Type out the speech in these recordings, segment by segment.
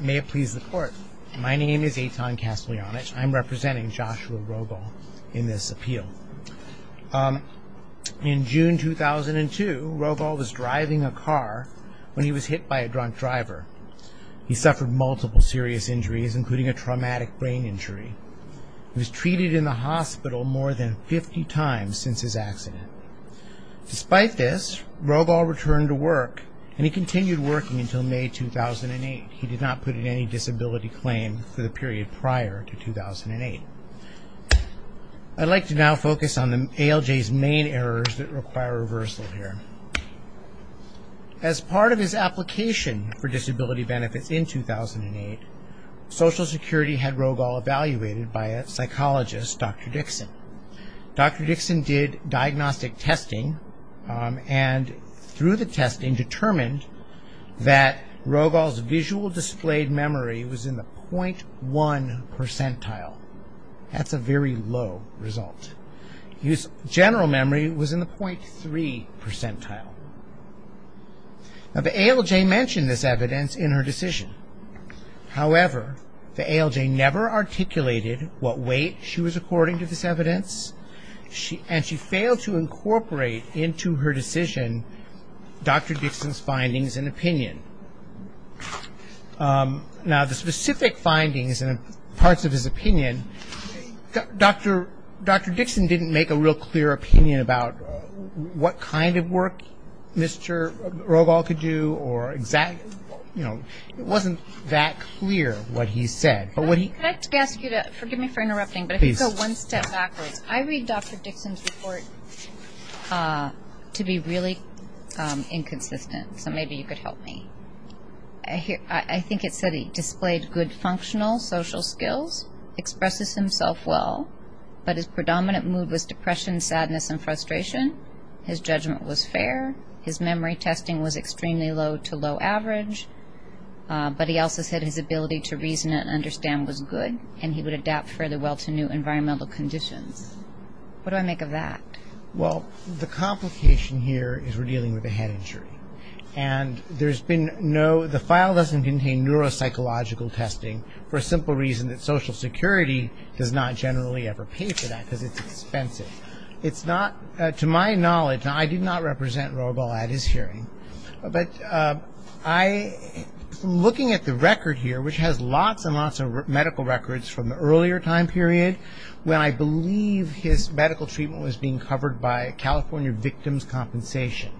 May it please the court, my name is Eitan Kasteljanic, I'm representing Joshua Rogal in this appeal. In June 2002, Rogal was driving a car when he was hit by a drunk driver. He suffered multiple serious injuries including a traumatic brain injury. He was treated in the hospital more than 50 times since his accident. Despite this, Rogal returned to work and he continued working until May 2008. He did not put in any disability claim for the period prior to 2008. I'd like to now focus on ALJ's main errors that require reversal here. As part of his application for disability benefits in 2008, Social Security had Rogal evaluated by a psychologist, Dr. Dixon. Dr. Dixon did diagnostic testing and through the testing determined that Rogal's visual displayed memory was in the 0.1 percentile. That's a very low result. General memory was in the 0.3 percentile. Now the ALJ mentioned this evidence in her decision. However, the ALJ never articulated what weight she was according to this evidence and she failed to incorporate into her decision Dr. Dixon's findings and opinion. Now the specific findings and parts of his opinion, Dr. Dixon didn't make a real clear opinion about what kind of work Mr. Rogal could do or exactly. It wasn't that clear what he said. I'd like to ask you to forgive me for interrupting, but if you could go one step backwards. I read Dr. Dixon's report to be really inconsistent, so maybe you could help me. I think it said he displayed good functional social skills, expresses himself well, but his predominant mood was depression, sadness, and frustration. His judgment was fair. His memory testing was extremely low to low average. But he also said his ability to reason and understand was good and he would adapt further well to new environmental conditions. What do I make of that? Well, the complication here is we're dealing with a head injury. And there's been no, the file doesn't contain neuropsychological testing for a simple reason that Social Security does not generally ever pay for that because it's expensive. It's not, to my knowledge, and I did not represent Rogal at his hearing, but I, looking at the record here, which has lots and lots of medical records from the earlier time period when I believe his medical treatment was being covered by California Victims' Compensation.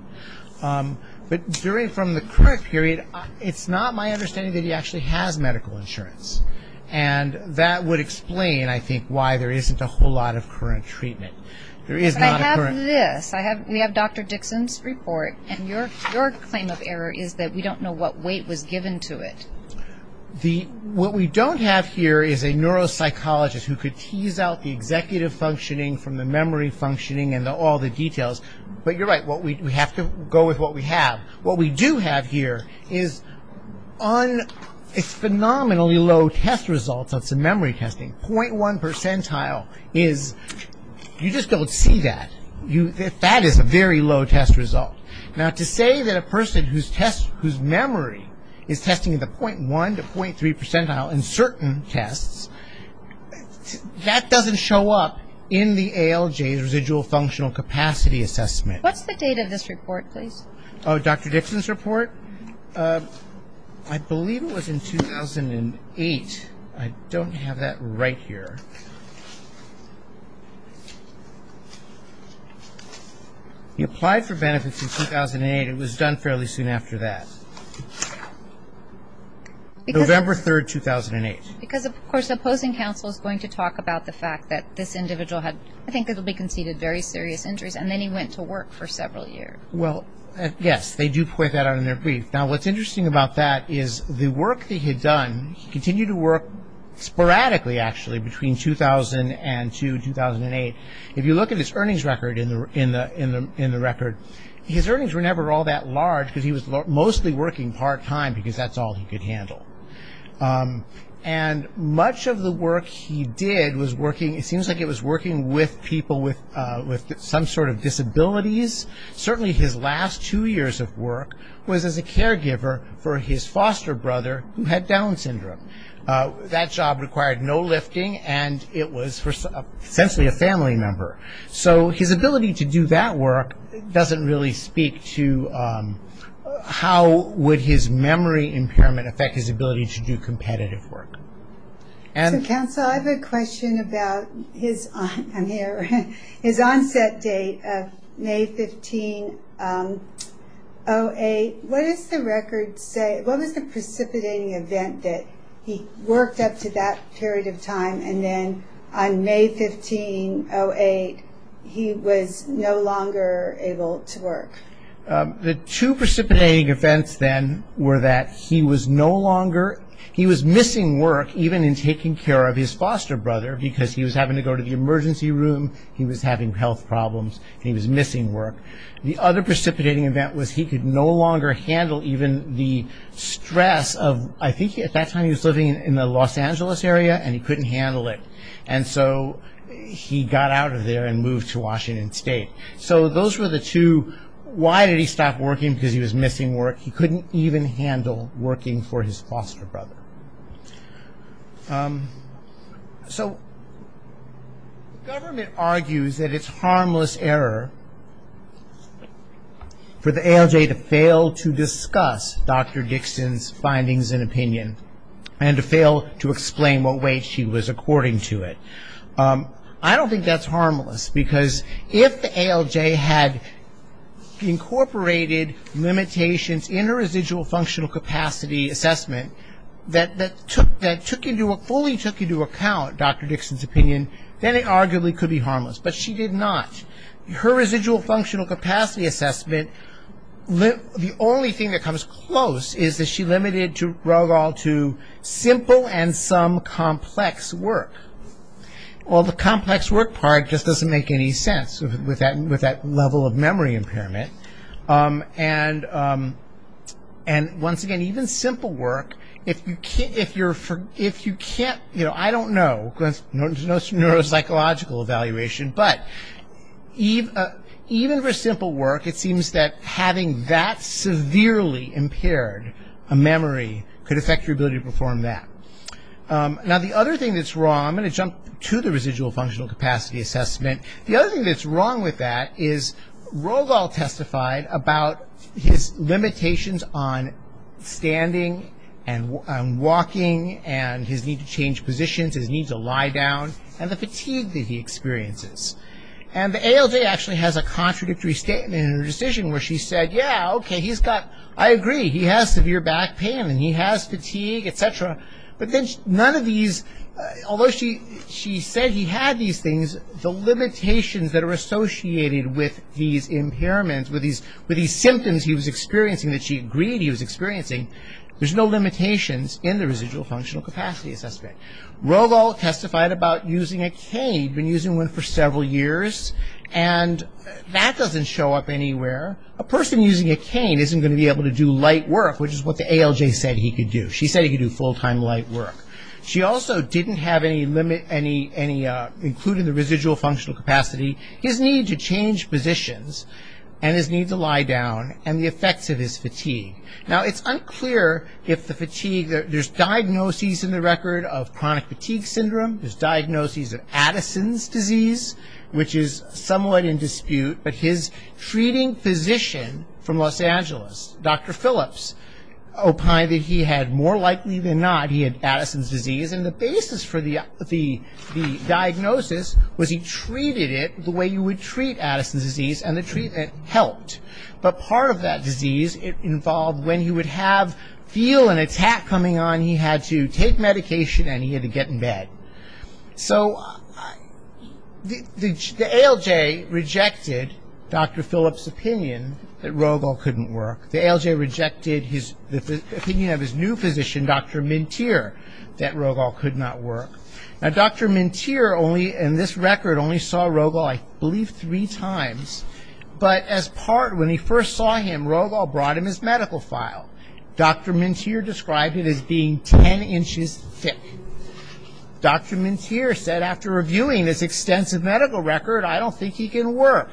But during, from the current period, it's not my understanding that he actually has medical insurance. And that would explain, I think, why there isn't a whole lot of current treatment. There is not a current. But I have this. We have Dr. Dixon's report, and your claim of error is that we don't know what weight was given to it. The, what we don't have here is a neuropsychologist who could tease out the executive functioning from the memory functioning and all the details. But you're right. We have to go with what we have. What we do have here is un, it's phenomenally low test results of some memory testing. 0.1 percentile is, you just don't see that. That is a very low test result. Now, to say that a person whose test, whose memory is testing at the 0.1 to 0.3 percentile in certain tests, that doesn't show up in the ALJ's residual functional capacity assessment. What's the date of this report, please? Oh, Dr. Dixon's report? I believe it was in 2008. I don't have that right here. He applied for benefits in 2008. It was done fairly soon after that. November 3rd, 2008. Because, of course, the opposing counsel is going to talk about the fact that this individual had, I think it will be conceded very serious injuries, and then he went to work for several years. Well, yes, they do point that out in their brief. Now, what's interesting about that is the work that he had done, he continued to work sporadically, actually, between 2002 and 2008. If you look at his earnings record in the record, his earnings were never all that large because he was mostly working part-time because that's all he could handle. And much of the work he did was working, it seems like it was working with people with some sort of disabilities. Certainly his last two years of work was as a caregiver for his foster brother who had Down syndrome. That job required no lifting, and it was essentially a family member. So his ability to do that work doesn't really speak to how would his memory impairment affect his ability to do competitive work. So, counsel, I have a question about his onset date of May 15, 08. What does the record say? What was the precipitating event that he worked up to that period of time, and then on May 15, 08, he was no longer able to work? The two precipitating events then were that he was no longer, he was missing work even in taking care of his foster brother because he was having to go to the emergency room, he was having health problems, and he was missing work. The other precipitating event was he could no longer handle even the stress of, I think at that time he was living in the Los Angeles area, and he couldn't handle it. And so he got out of there and moved to Washington State. So those were the two. Why did he stop working? Because he was missing work. He couldn't even handle working for his foster brother. So government argues that it's harmless error for the ALJ to fail to discuss Dr. Dixon's findings and opinion and to fail to explain what weight she was according to it. I don't think that's harmless because if the ALJ had incorporated limitations in her residual functional capacity assessment that took into, fully took into account Dr. Dixon's opinion, then it arguably could be harmless. But she did not. Her residual functional capacity assessment, the only thing that comes close is that she limited Ruggall to simple and some complex work. Well, the complex work part just doesn't make any sense with that level of memory impairment. And once again, even simple work, if you can't, I don't know, there's no neuropsychological evaluation, but even for simple work, it seems that having that severely impaired memory could affect your ability to perform that. Now the other thing that's wrong, I'm going to jump to the residual functional capacity assessment. The other thing that's wrong with that is Ruggall testified about his limitations on standing and walking and his need to change positions, his need to lie down, and the fatigue that he experiences. And the ALJ actually has a contradictory statement in her decision where she said, yeah, okay, he's got, I agree, he has severe back pain and he has fatigue, et cetera. But then none of these, although she said he had these things, the limitations that are associated with these impairments, with these symptoms he was experiencing that she agreed he was experiencing, there's no limitations in the residual functional capacity assessment. Ruggall testified about using a cane, been using one for several years, and that doesn't show up anywhere. A person using a cane isn't going to be able to do light work, which is what the ALJ said he could do. She said he could do full-time light work. She also didn't have any, including the residual functional capacity, his need to change positions and his need to lie down and the effects of his fatigue. Now, it's unclear if the fatigue, there's diagnoses in the record of chronic fatigue syndrome, there's diagnoses of Addison's disease, which is somewhat in dispute, but his treating physician from Los Angeles, Dr. Phillips, opined that he had, more likely than not, he had Addison's disease, and the basis for the diagnosis was he treated it the way you would treat Addison's disease, and the treatment helped. But part of that disease involved when he would have, feel an attack coming on, he had to take medication and he had to get in bed. So the ALJ rejected Dr. Phillips' opinion that Ruggall couldn't work. The ALJ rejected the opinion of his new physician, Dr. Mintir, that Ruggall could not work. Now, Dr. Mintir only, in this record, only saw Ruggall, I believe, three times, but as part, when he first saw him, Ruggall brought him his medical file. Dr. Mintir described it as being 10 inches thick. Dr. Mintir said, after reviewing this extensive medical record, I don't think he can work.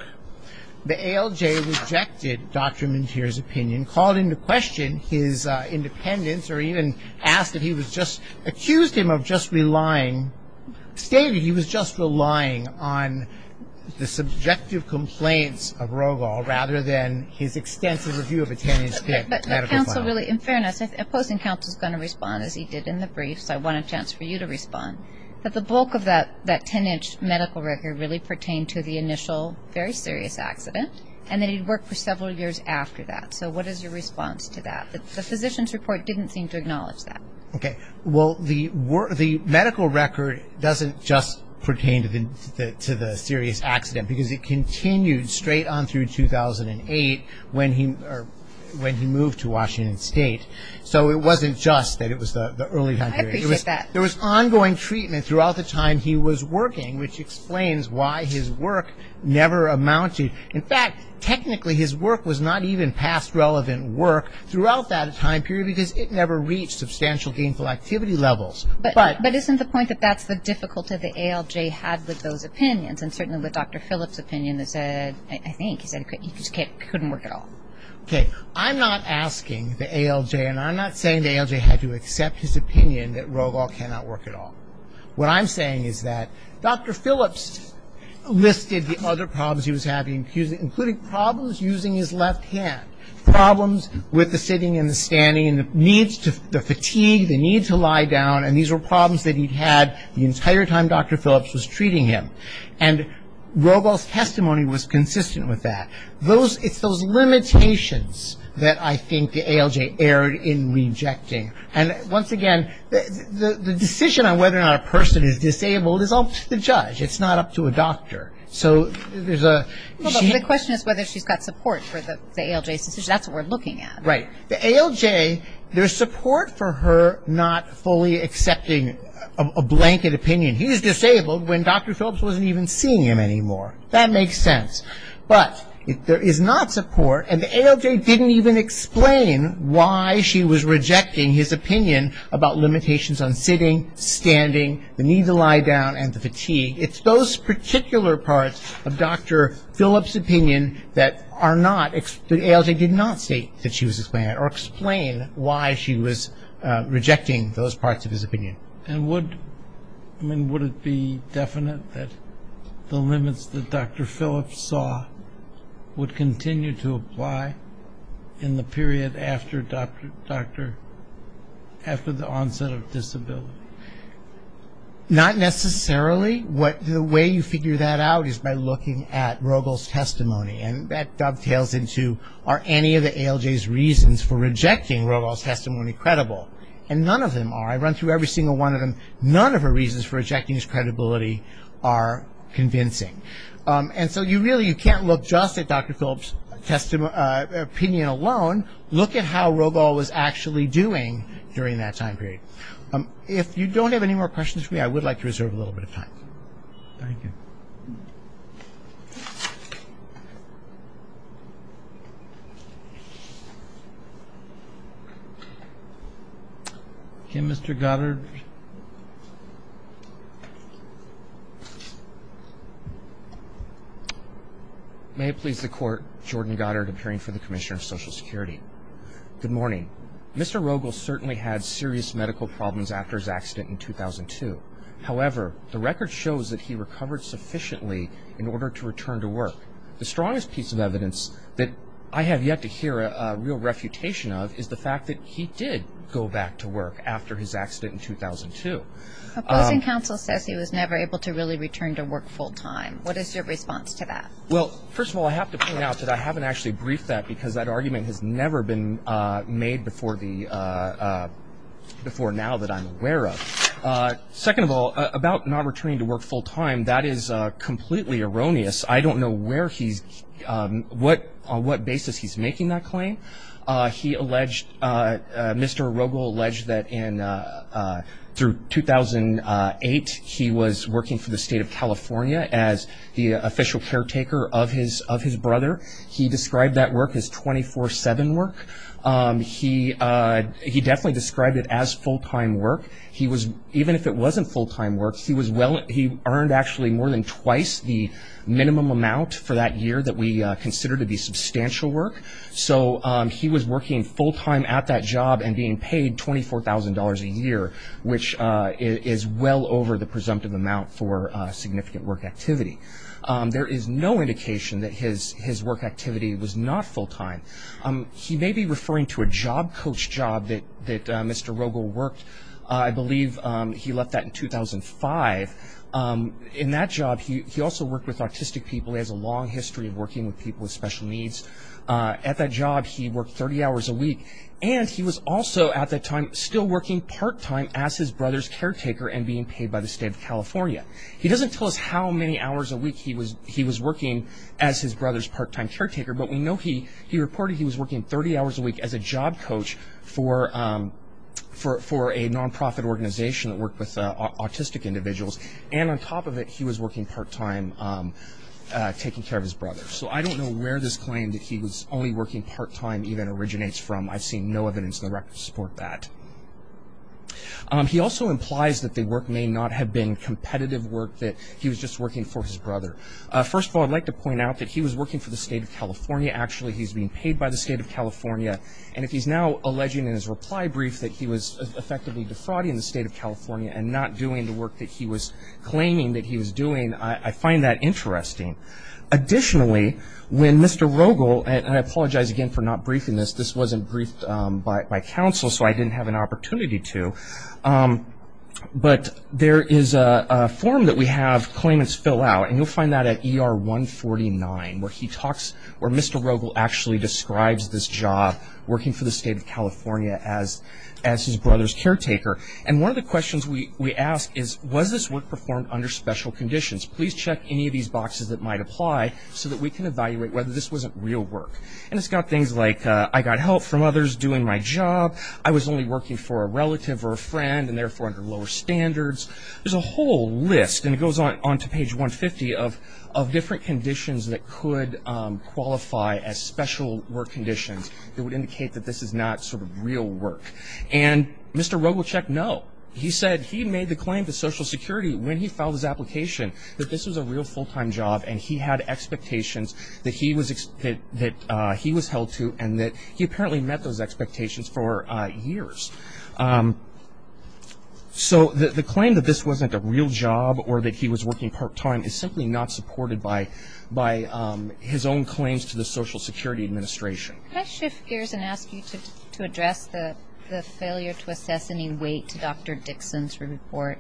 The ALJ rejected Dr. Mintir's opinion, called into question his independence, or even asked if he was just, accused him of just relying, stated he was just relying on the subjective complaints of Ruggall, rather than his extensive review of a 10-inch thick medical file. In fairness, opposing counsel is going to respond, as he did in the brief, so I want a chance for you to respond, that the bulk of that 10-inch medical record really pertained to the initial very serious accident, and that he worked for several years after that. So what is your response to that? The physician's report didn't seem to acknowledge that. Okay. Well, the medical record doesn't just pertain to the serious accident, because it continued straight on through 2008 when he moved to Washington State. So it wasn't just that it was the early time period. I appreciate that. There was ongoing treatment throughout the time he was working, which explains why his work never amounted. In fact, technically his work was not even past relevant work throughout that time period, because it never reached substantial gainful activity levels. But isn't the point that that's the difficulty the ALJ had with those opinions, and certainly with Dr. Phillips' opinion that said, I think he said it couldn't work at all. Okay. I'm not asking the ALJ, and I'm not saying the ALJ had to accept his opinion that Ruggall cannot work at all. What I'm saying is that Dr. Phillips listed the other problems he was having, including problems using his left hand, problems with the sitting and the standing, the fatigue, the need to lie down, and these were problems that he'd had the entire time Dr. Phillips was treating him. And Ruggall's testimony was consistent with that. It's those limitations that I think the ALJ erred in rejecting. And once again, the decision on whether or not a person is disabled is up to the judge. It's not up to a doctor. So there's a Well, the question is whether she's got support for the ALJ's decision. That's what we're looking at. Right. The ALJ, there's support for her not fully accepting a blanket opinion. He's disabled when Dr. Phillips wasn't even seeing him anymore. That makes sense. But there is not support, and the ALJ didn't even explain why she was rejecting his opinion about limitations on sitting, standing, the need to lie down, and the fatigue. It's those particular parts of Dr. Phillips' opinion that are not that the ALJ did not state that she was explaining or explain why she was rejecting those parts of his opinion. And would, I mean, would it be definite that the limits that Dr. Phillips saw would continue to apply in the period after the onset of disability? Not necessarily. The way you figure that out is by looking at Rogal's testimony, and that dovetails into are any of the ALJ's reasons for rejecting Rogal's testimony credible? And none of them are. I run through every single one of them. None of her reasons for rejecting his credibility are convincing. And so you really, you can't look just at Dr. Phillips' opinion alone. Look at how Rogal was actually doing during that time period. If you don't have any more questions for me, I would like to reserve a little bit of time. Thank you. Okay, Mr. Goddard. May it please the Court, Jordan Goddard appearing for the Commissioner of Social Security. Good morning. Mr. Rogal certainly had serious medical problems after his accident in 2002. However, the record shows that he recovered sufficiently in order to return to work. The strongest piece of evidence that I have yet to hear a real refutation of is the fact that he did go back to work after his accident in 2002. Opposing counsel says he was never able to really return to work full time. What is your response to that? Well, first of all, I have to point out that I haven't actually briefed that because that argument has never been made before now that I'm aware of. Second of all, about not returning to work full time, that is completely erroneous. I don't know where he's, on what basis he's making that claim. He alleged, Mr. Rogal alleged that in, through 2008, he was working for the State of California as the official caretaker of his brother. He described that work as 24-7 work. He definitely described it as full time work. He was, even if it wasn't full time work, he was well, he earned actually more than twice the minimum amount for that year that we consider to be substantial work. So he was working full time at that job and being paid $24,000 a year, which is well over the presumptive amount for significant work activity. There is no indication that his work activity was not full time. He may be referring to a job coach job that Mr. Rogal worked. I believe he left that in 2005. In that job, he also worked with autistic people. He has a long history of working with people with special needs. At that job, he worked 30 hours a week, and he was also at that time still working part time as his brother's caretaker and being paid by the State of California. He doesn't tell us how many hours a week he was working as his brother's part time caretaker, but we know he reported he was working 30 hours a week as a job coach for a non-profit organization that worked with autistic individuals. And on top of it, he was working part time taking care of his brother. So I don't know where this claim that he was only working part time even originates from. I've seen no evidence in the record to support that. He also implies that the work may not have been competitive work, that he was just working for his brother. First of all, I'd like to point out that he was working for the State of California. Actually, he's being paid by the State of California, and if he's now alleging in his reply brief that he was effectively defrauding the State of California and not doing the work that he was claiming that he was doing, I find that interesting. Additionally, when Mr. Rogal, and I apologize again for not briefing this, this wasn't briefed by counsel, so I didn't have an opportunity to. But there is a form that we have claimants fill out, and you'll find that at ER 149, where he talks, where Mr. Rogal actually describes this job, working for the State of California as his brother's caretaker. And one of the questions we ask is, was this work performed under special conditions? Please check any of these boxes that might apply, so that we can evaluate whether this wasn't real work. And it's got things like, I got help from others doing my job. I was only working for a relative or a friend, and therefore under lower standards. There's a whole list, and it goes on to page 150, of different conditions that could qualify as special work conditions that would indicate that this is not sort of real work. And Mr. Rogal checked no. He said he made the claim to Social Security when he filed his application that this was a real full-time job, and he had expectations that he was held to, and that he apparently met those expectations for years. So the claim that this wasn't a real job, or that he was working part-time, is simply not supported by his own claims to the Social Security Administration. Can I shift gears and ask you to address the failure to assess any weight to Dr. Dixon's report?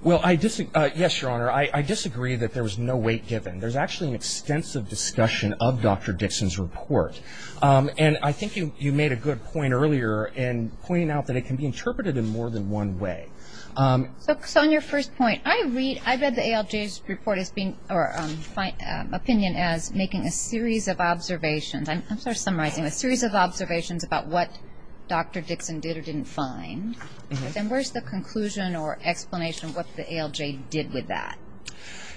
Well, yes, Your Honor. I disagree that there was no weight given. There's actually an extensive discussion of Dr. Dixon's report. And I think you made a good point earlier in pointing out that it can be interpreted in more than one way. So on your first point, I read the ALJ's opinion as making a series of observations. I'm sorry, summarizing. A series of observations about what Dr. Dixon did or didn't find. Then where's the conclusion or explanation of what the ALJ did with that?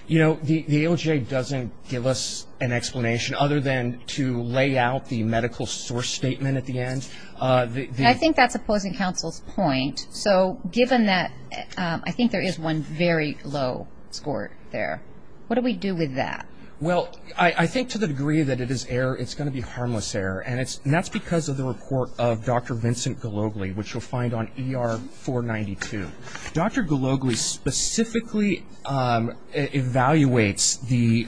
You know, the ALJ doesn't give us an explanation other than to lay out the medical source statement at the end. I think that's opposing counsel's point. So given that, I think there is one very low score there. What do we do with that? Well, I think to the degree that it is error, it's going to be harmless error. And that's because of the report of Dr. Vincent Gologly, which you'll find on ER 492. Dr. Gologly specifically evaluates the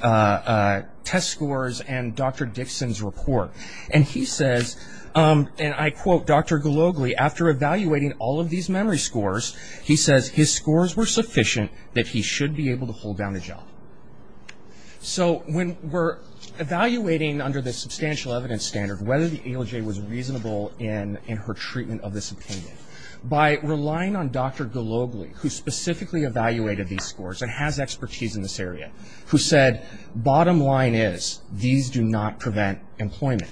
test scores and Dr. Dixon's report. And he says, and I quote Dr. Gologly, after evaluating all of these memory scores, he says his scores were sufficient that he should be able to hold down a job. So when we're evaluating under the substantial evidence standard, whether the ALJ was reasonable in her treatment of this opinion, by relying on Dr. Gologly, who specifically evaluated these scores and has expertise in this area, who said, bottom line is, these do not prevent employment.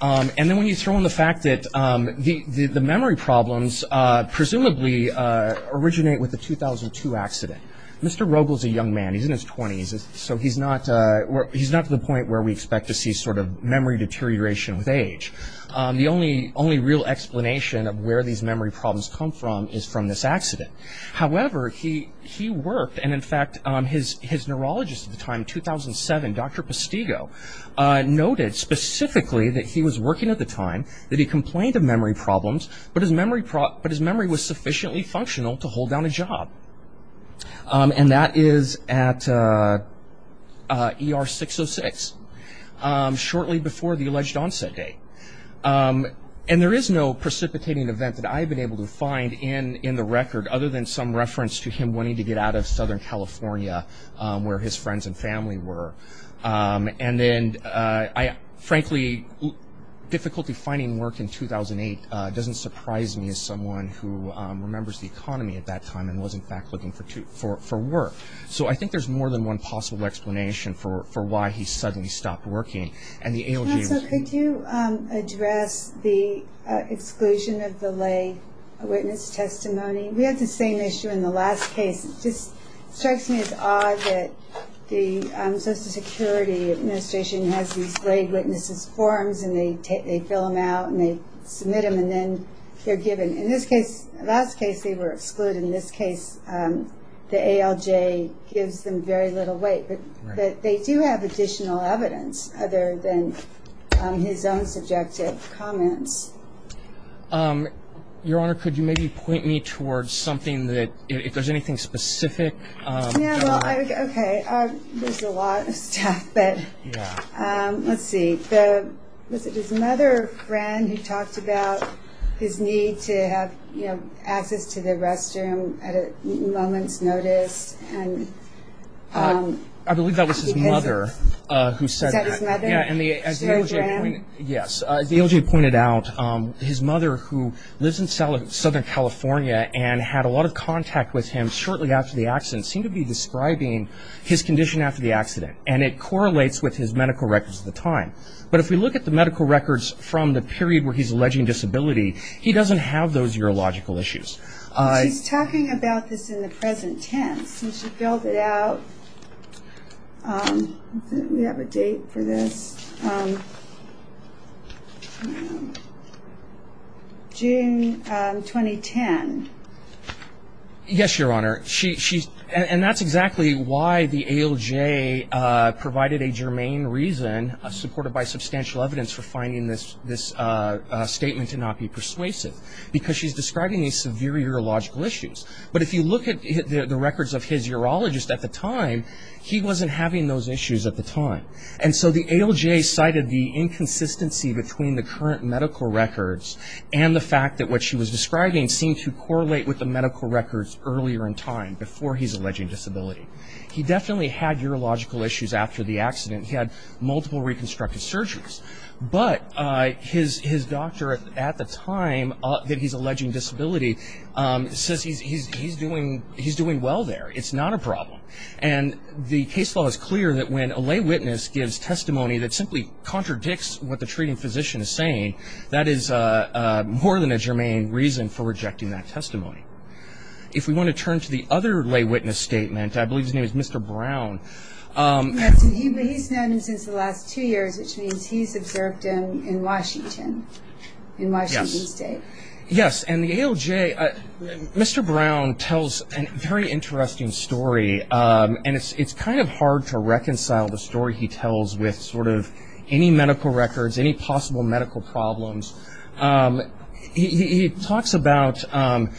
And then when you throw in the fact that the memory problems presumably originate with the 2002 accident. Mr. Rogel is a young man, he's in his 20s, so he's not to the point where we expect to see sort of memory deterioration with age. The only real explanation of where these memory problems come from is from this accident. However, he worked, and in fact, his neurologist at the time, 2007, Dr. Postigo, noted specifically that he was working at the time, that he complained of memory problems, but his memory was sufficiently functional to hold down a job. And that is at ER 606, shortly before the alleged onset date. And there is no precipitating event that I've been able to find in the record, other than some reference to him wanting to get out of Southern California, where his friends and family were. And then, frankly, difficulty finding work in 2008 doesn't surprise me, as someone who remembers the economy at that time, and was in fact looking for work. So I think there's more than one possible explanation for why he suddenly stopped working. And the ALJ... So could you address the exclusion of the lay witness testimony? We had the same issue in the last case. It just strikes me as odd that the Social Security Administration has these lay witnesses' forms, and they fill them out, and they submit them, and then they're given. In this case, last case, they were excluded. In this case, the ALJ gives them very little weight. But they do have additional evidence, other than his own subjective comments. Your Honor, could you maybe point me towards something that, if there's anything specific? Yeah, well, okay. There's a lot of stuff, but let's see. Was it his mother or friend who talked about his need to have access to the restroom at a moment's notice? I believe that was his mother who said that. Was that his mother? Yes. The ALJ pointed out his mother, who lives in Southern California and had a lot of contact with him shortly after the accident, seemed to be describing his condition after the accident. And it correlates with his medical records at the time. But if we look at the medical records from the period where he's alleging disability, he doesn't have those urological issues. She's talking about this in the present tense. She filled it out. We have a date for this. June 2010. Yes, Your Honor. And that's exactly why the ALJ provided a germane reason, supported by substantial evidence for finding this statement to not be persuasive, because she's describing these severe urological issues. But if you look at the records of his urologist at the time, he wasn't having those issues at the time. And so the ALJ cited the inconsistency between the current medical records and the fact that what she was describing seemed to correlate with the medical records earlier in time, before he's alleging disability. He definitely had urological issues after the accident. He had multiple reconstructive surgeries. But his doctor at the time that he's alleging disability says he's doing well there. It's not a problem. And the case law is clear that when a lay witness gives testimony that simply contradicts what the treating physician is saying, that is more than a germane reason for rejecting that testimony. If we want to turn to the other lay witness statement, I believe his name is Mr. Brown. He's known since the last two years, which means he's observed him in Washington, in Washington State. Yes. And the ALJ, Mr. Brown tells a very interesting story, and it's kind of hard to reconcile the story he tells with sort of any medical records, any possible medical problems. He talks about Mr.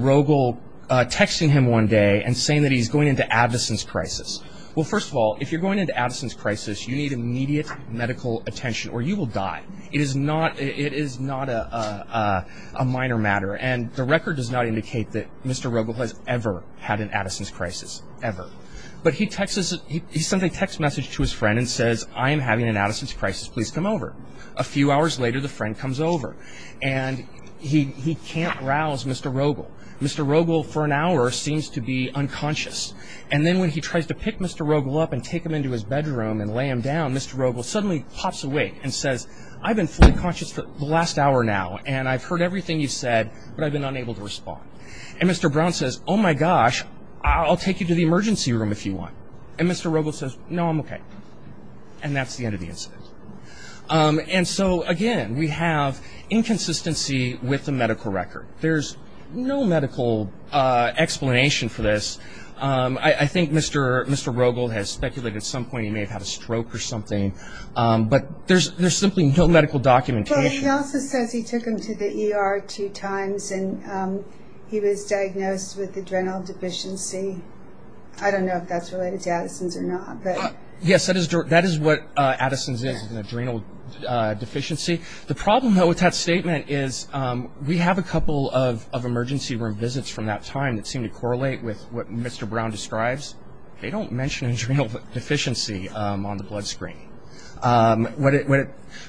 Rogel texting him one day and saying that he's going into Addison's crisis. Well, first of all, if you're going into Addison's crisis, you need immediate medical attention or you will die. It is not a minor matter. And the record does not indicate that Mr. Rogel has ever had an Addison's crisis, ever. But he sends a text message to his friend and says, I am having an Addison's crisis. Please come over. A few hours later, the friend comes over, and he can't rouse Mr. Rogel. Mr. Rogel, for an hour, seems to be unconscious. And then when he tries to pick Mr. Rogel up and take him into his bedroom and lay him down, Mr. Rogel suddenly pops awake and says, I've been fully conscious for the last hour now, and I've heard everything you've said, but I've been unable to respond. And Mr. Brown says, oh, my gosh, I'll take you to the emergency room if you want. And Mr. Rogel says, no, I'm okay. And that's the end of the incident. And so, again, we have inconsistency with the medical record. There's no medical explanation for this. I think Mr. Rogel has speculated at some point he may have had a stroke or something. But there's simply no medical documentation. But he also says he took him to the ER two times, and he was diagnosed with adrenal deficiency. I don't know if that's related to Addison's or not. Yes, that is what Addison's is, an adrenal deficiency. The problem, though, with that statement is we have a couple of emergency room visits from that time that seem to correlate with what Mr. Brown describes. They don't mention adrenal deficiency on the blood screen.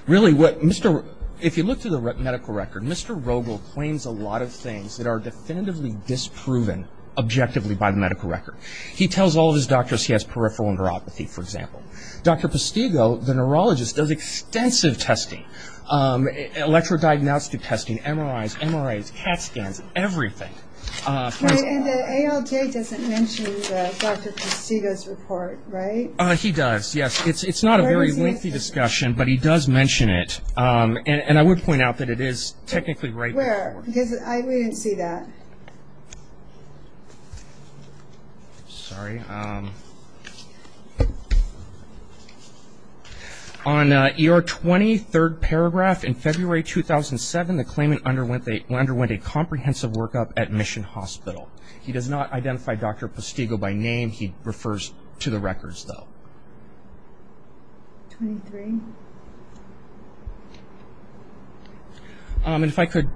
Really, if you look through the medical record, Mr. Rogel claims a lot of things that are definitively disproven objectively by the medical record. He tells all of his doctors he has peripheral neuropathy, for example. Dr. Postigo, the neurologist, does extensive testing, electro-diagnostic testing, MRIs, MRIs, CAT scans, everything. And the ALJ doesn't mention Dr. Postigo's report, right? He does, yes. It's not a very lengthy discussion, but he does mention it. Where? Because we didn't see that. Sorry. On ER 20, third paragraph, in February 2007, the claimant underwent a comprehensive workup at Mission Hospital. He does not identify Dr. Postigo by name. He refers to the records, though. 23. And if I could,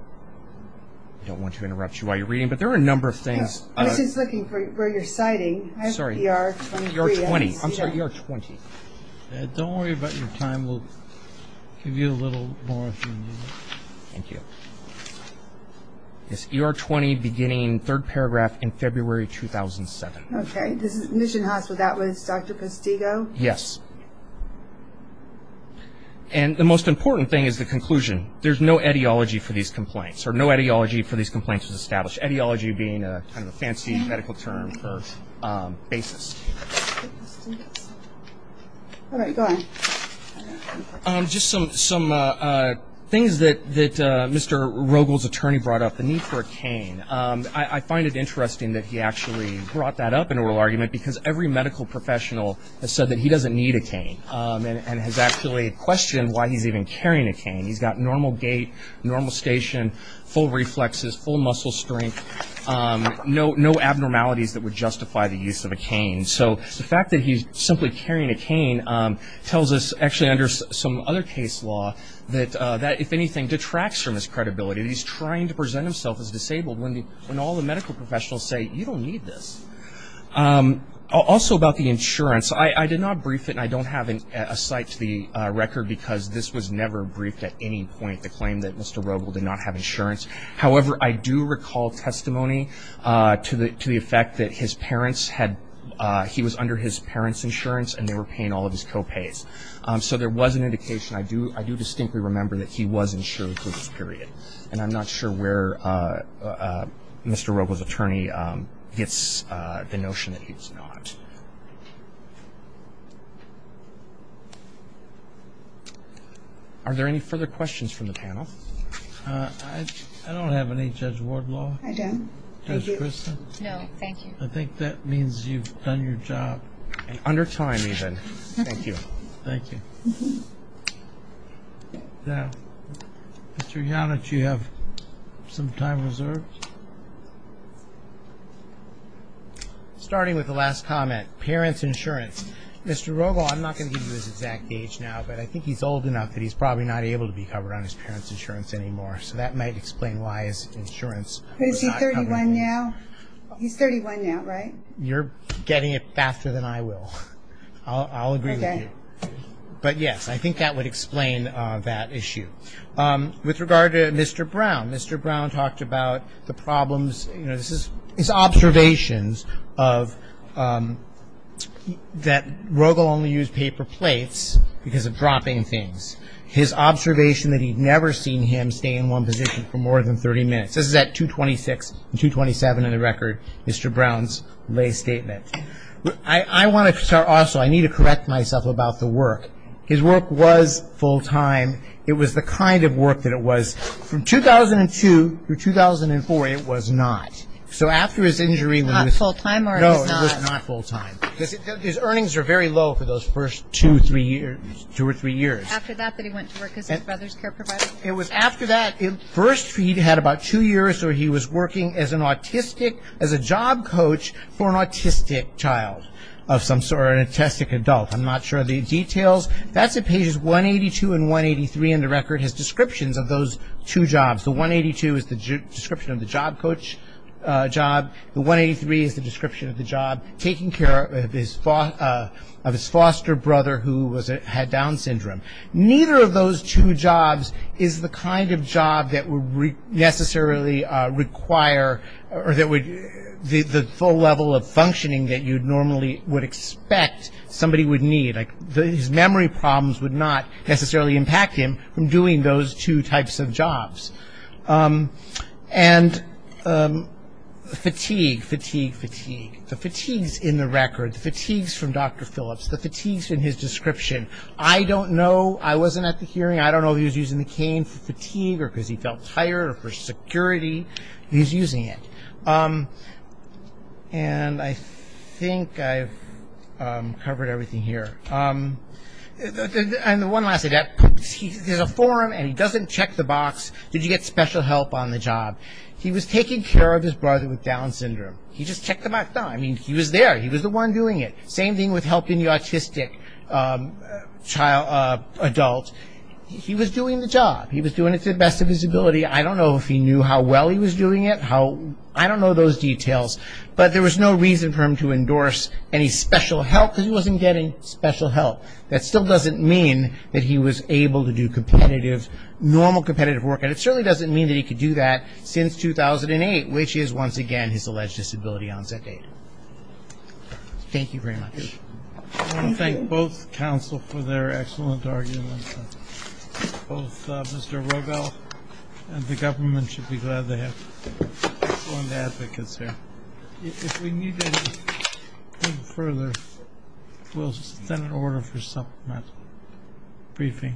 I don't want to interrupt you while you're reading, but there are a number of things. I was just looking for where you're citing. Sorry. ER 23. ER 20. I'm sorry, ER 20. Don't worry about your time. We'll give you a little more if you need it. Thank you. Yes, ER 20, beginning, third paragraph, in February 2007. Okay. Mission Hospital, that was Dr. Postigo? Yes. And the most important thing is the conclusion. There's no etiology for these complaints, or no etiology for these complaints was established, etiology being kind of a fancy medical term for basis. All right, go on. Just some things that Mr. Rogel's attorney brought up, the need for a cane. I find it interesting that he actually brought that up in oral argument, because every medical professional has said that he doesn't need a cane and has actually questioned why he's even carrying a cane. He's got normal gait, normal station, full reflexes, full muscle strength, no abnormalities that would justify the use of a cane. So the fact that he's simply carrying a cane tells us, actually under some other case law, that that, if anything, detracts from his credibility. He's trying to present himself as disabled when all the medical professionals say, you don't need this. Also about the insurance, I did not brief it, and I don't have a cite to the record, because this was never briefed at any point, the claim that Mr. Rogel did not have insurance. However, I do recall testimony to the effect that his parents had, he was under his parents' insurance and they were paying all of his co-pays. So there was an indication. I do distinctly remember that he was insured through this period, and I'm not sure where Mr. Rogel's attorney gets the notion that he's not. Are there any further questions from the panel? I don't have any, Judge Wardlaw. I don't. Judge Christin. No, thank you. I think that means you've done your job. And under time, even. Thank you. Thank you. Now, Mr. Yanich, do you have some time reserved? Starting with the last comment, parents' insurance. Mr. Rogel, I'm not going to give you his exact age now, but I think he's old enough that he's probably not able to be covered on his parents' insurance anymore, so that might explain why his insurance was not covered. Is he 31 now? He's 31 now, right? You're getting it faster than I will. I'll agree with you. Okay. But, yes, I think that would explain that issue. With regard to Mr. Brown, Mr. Brown talked about the problems, you know, his observations that Rogel only used paper plates because of dropping things, his observation that he'd never seen him stay in one position for more than 30 minutes. This is at 226 and 227 in the record, Mr. Brown's lay statement. I want to start also, I need to correct myself about the work. His work was full-time. It was the kind of work that it was. From 2002 through 2004, it was not. So after his injury when he was- Not full-time or it was not? No, it was not full-time. His earnings were very low for those first two or three years. After that, that he went to work as a brother's care provider? It was after that. At first, he had about two years where he was working as an autistic, as a job coach for an autistic child of some sort or an autistic adult. I'm not sure of the details. That's at pages 182 and 183 in the record, his descriptions of those two jobs. The 182 is the description of the job coach job. The 183 is the description of the job taking care of his foster brother who had Down syndrome. Neither of those two jobs is the kind of job that would necessarily require or that would- the full level of functioning that you normally would expect somebody would need. His memory problems would not necessarily impact him from doing those two types of jobs. And fatigue, fatigue, fatigue. The fatigues in the record, the fatigues from Dr. Phillips, the fatigues in his description. I don't know. I wasn't at the hearing. I don't know if he was using the cane for fatigue or because he felt tired or for security. He was using it. And I think I've covered everything here. And the one last thing. There's a forum and he doesn't check the box, did you get special help on the job. He was taking care of his brother with Down syndrome. He just checked them out. I mean, he was there. He was the one doing it. Same thing with helping the autistic adult. He was doing the job. He was doing it to the best of his ability. I don't know if he knew how well he was doing it. I don't know those details. But there was no reason for him to endorse any special help because he wasn't getting special help. That still doesn't mean that he was able to do competitive, normal competitive work. And it certainly doesn't mean that he could do that since 2008, which is once again his alleged disability onset date. Thank you very much. I want to thank both counsel for their excellent arguments. Both Mr. Robel and the government should be glad they have excellent advocates here. If we need anything further, we'll send an order for supplement briefing.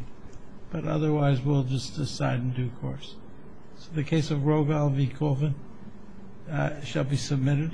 But otherwise, we'll just decide in due course. So the case of Robel v. Colvin shall be submitted.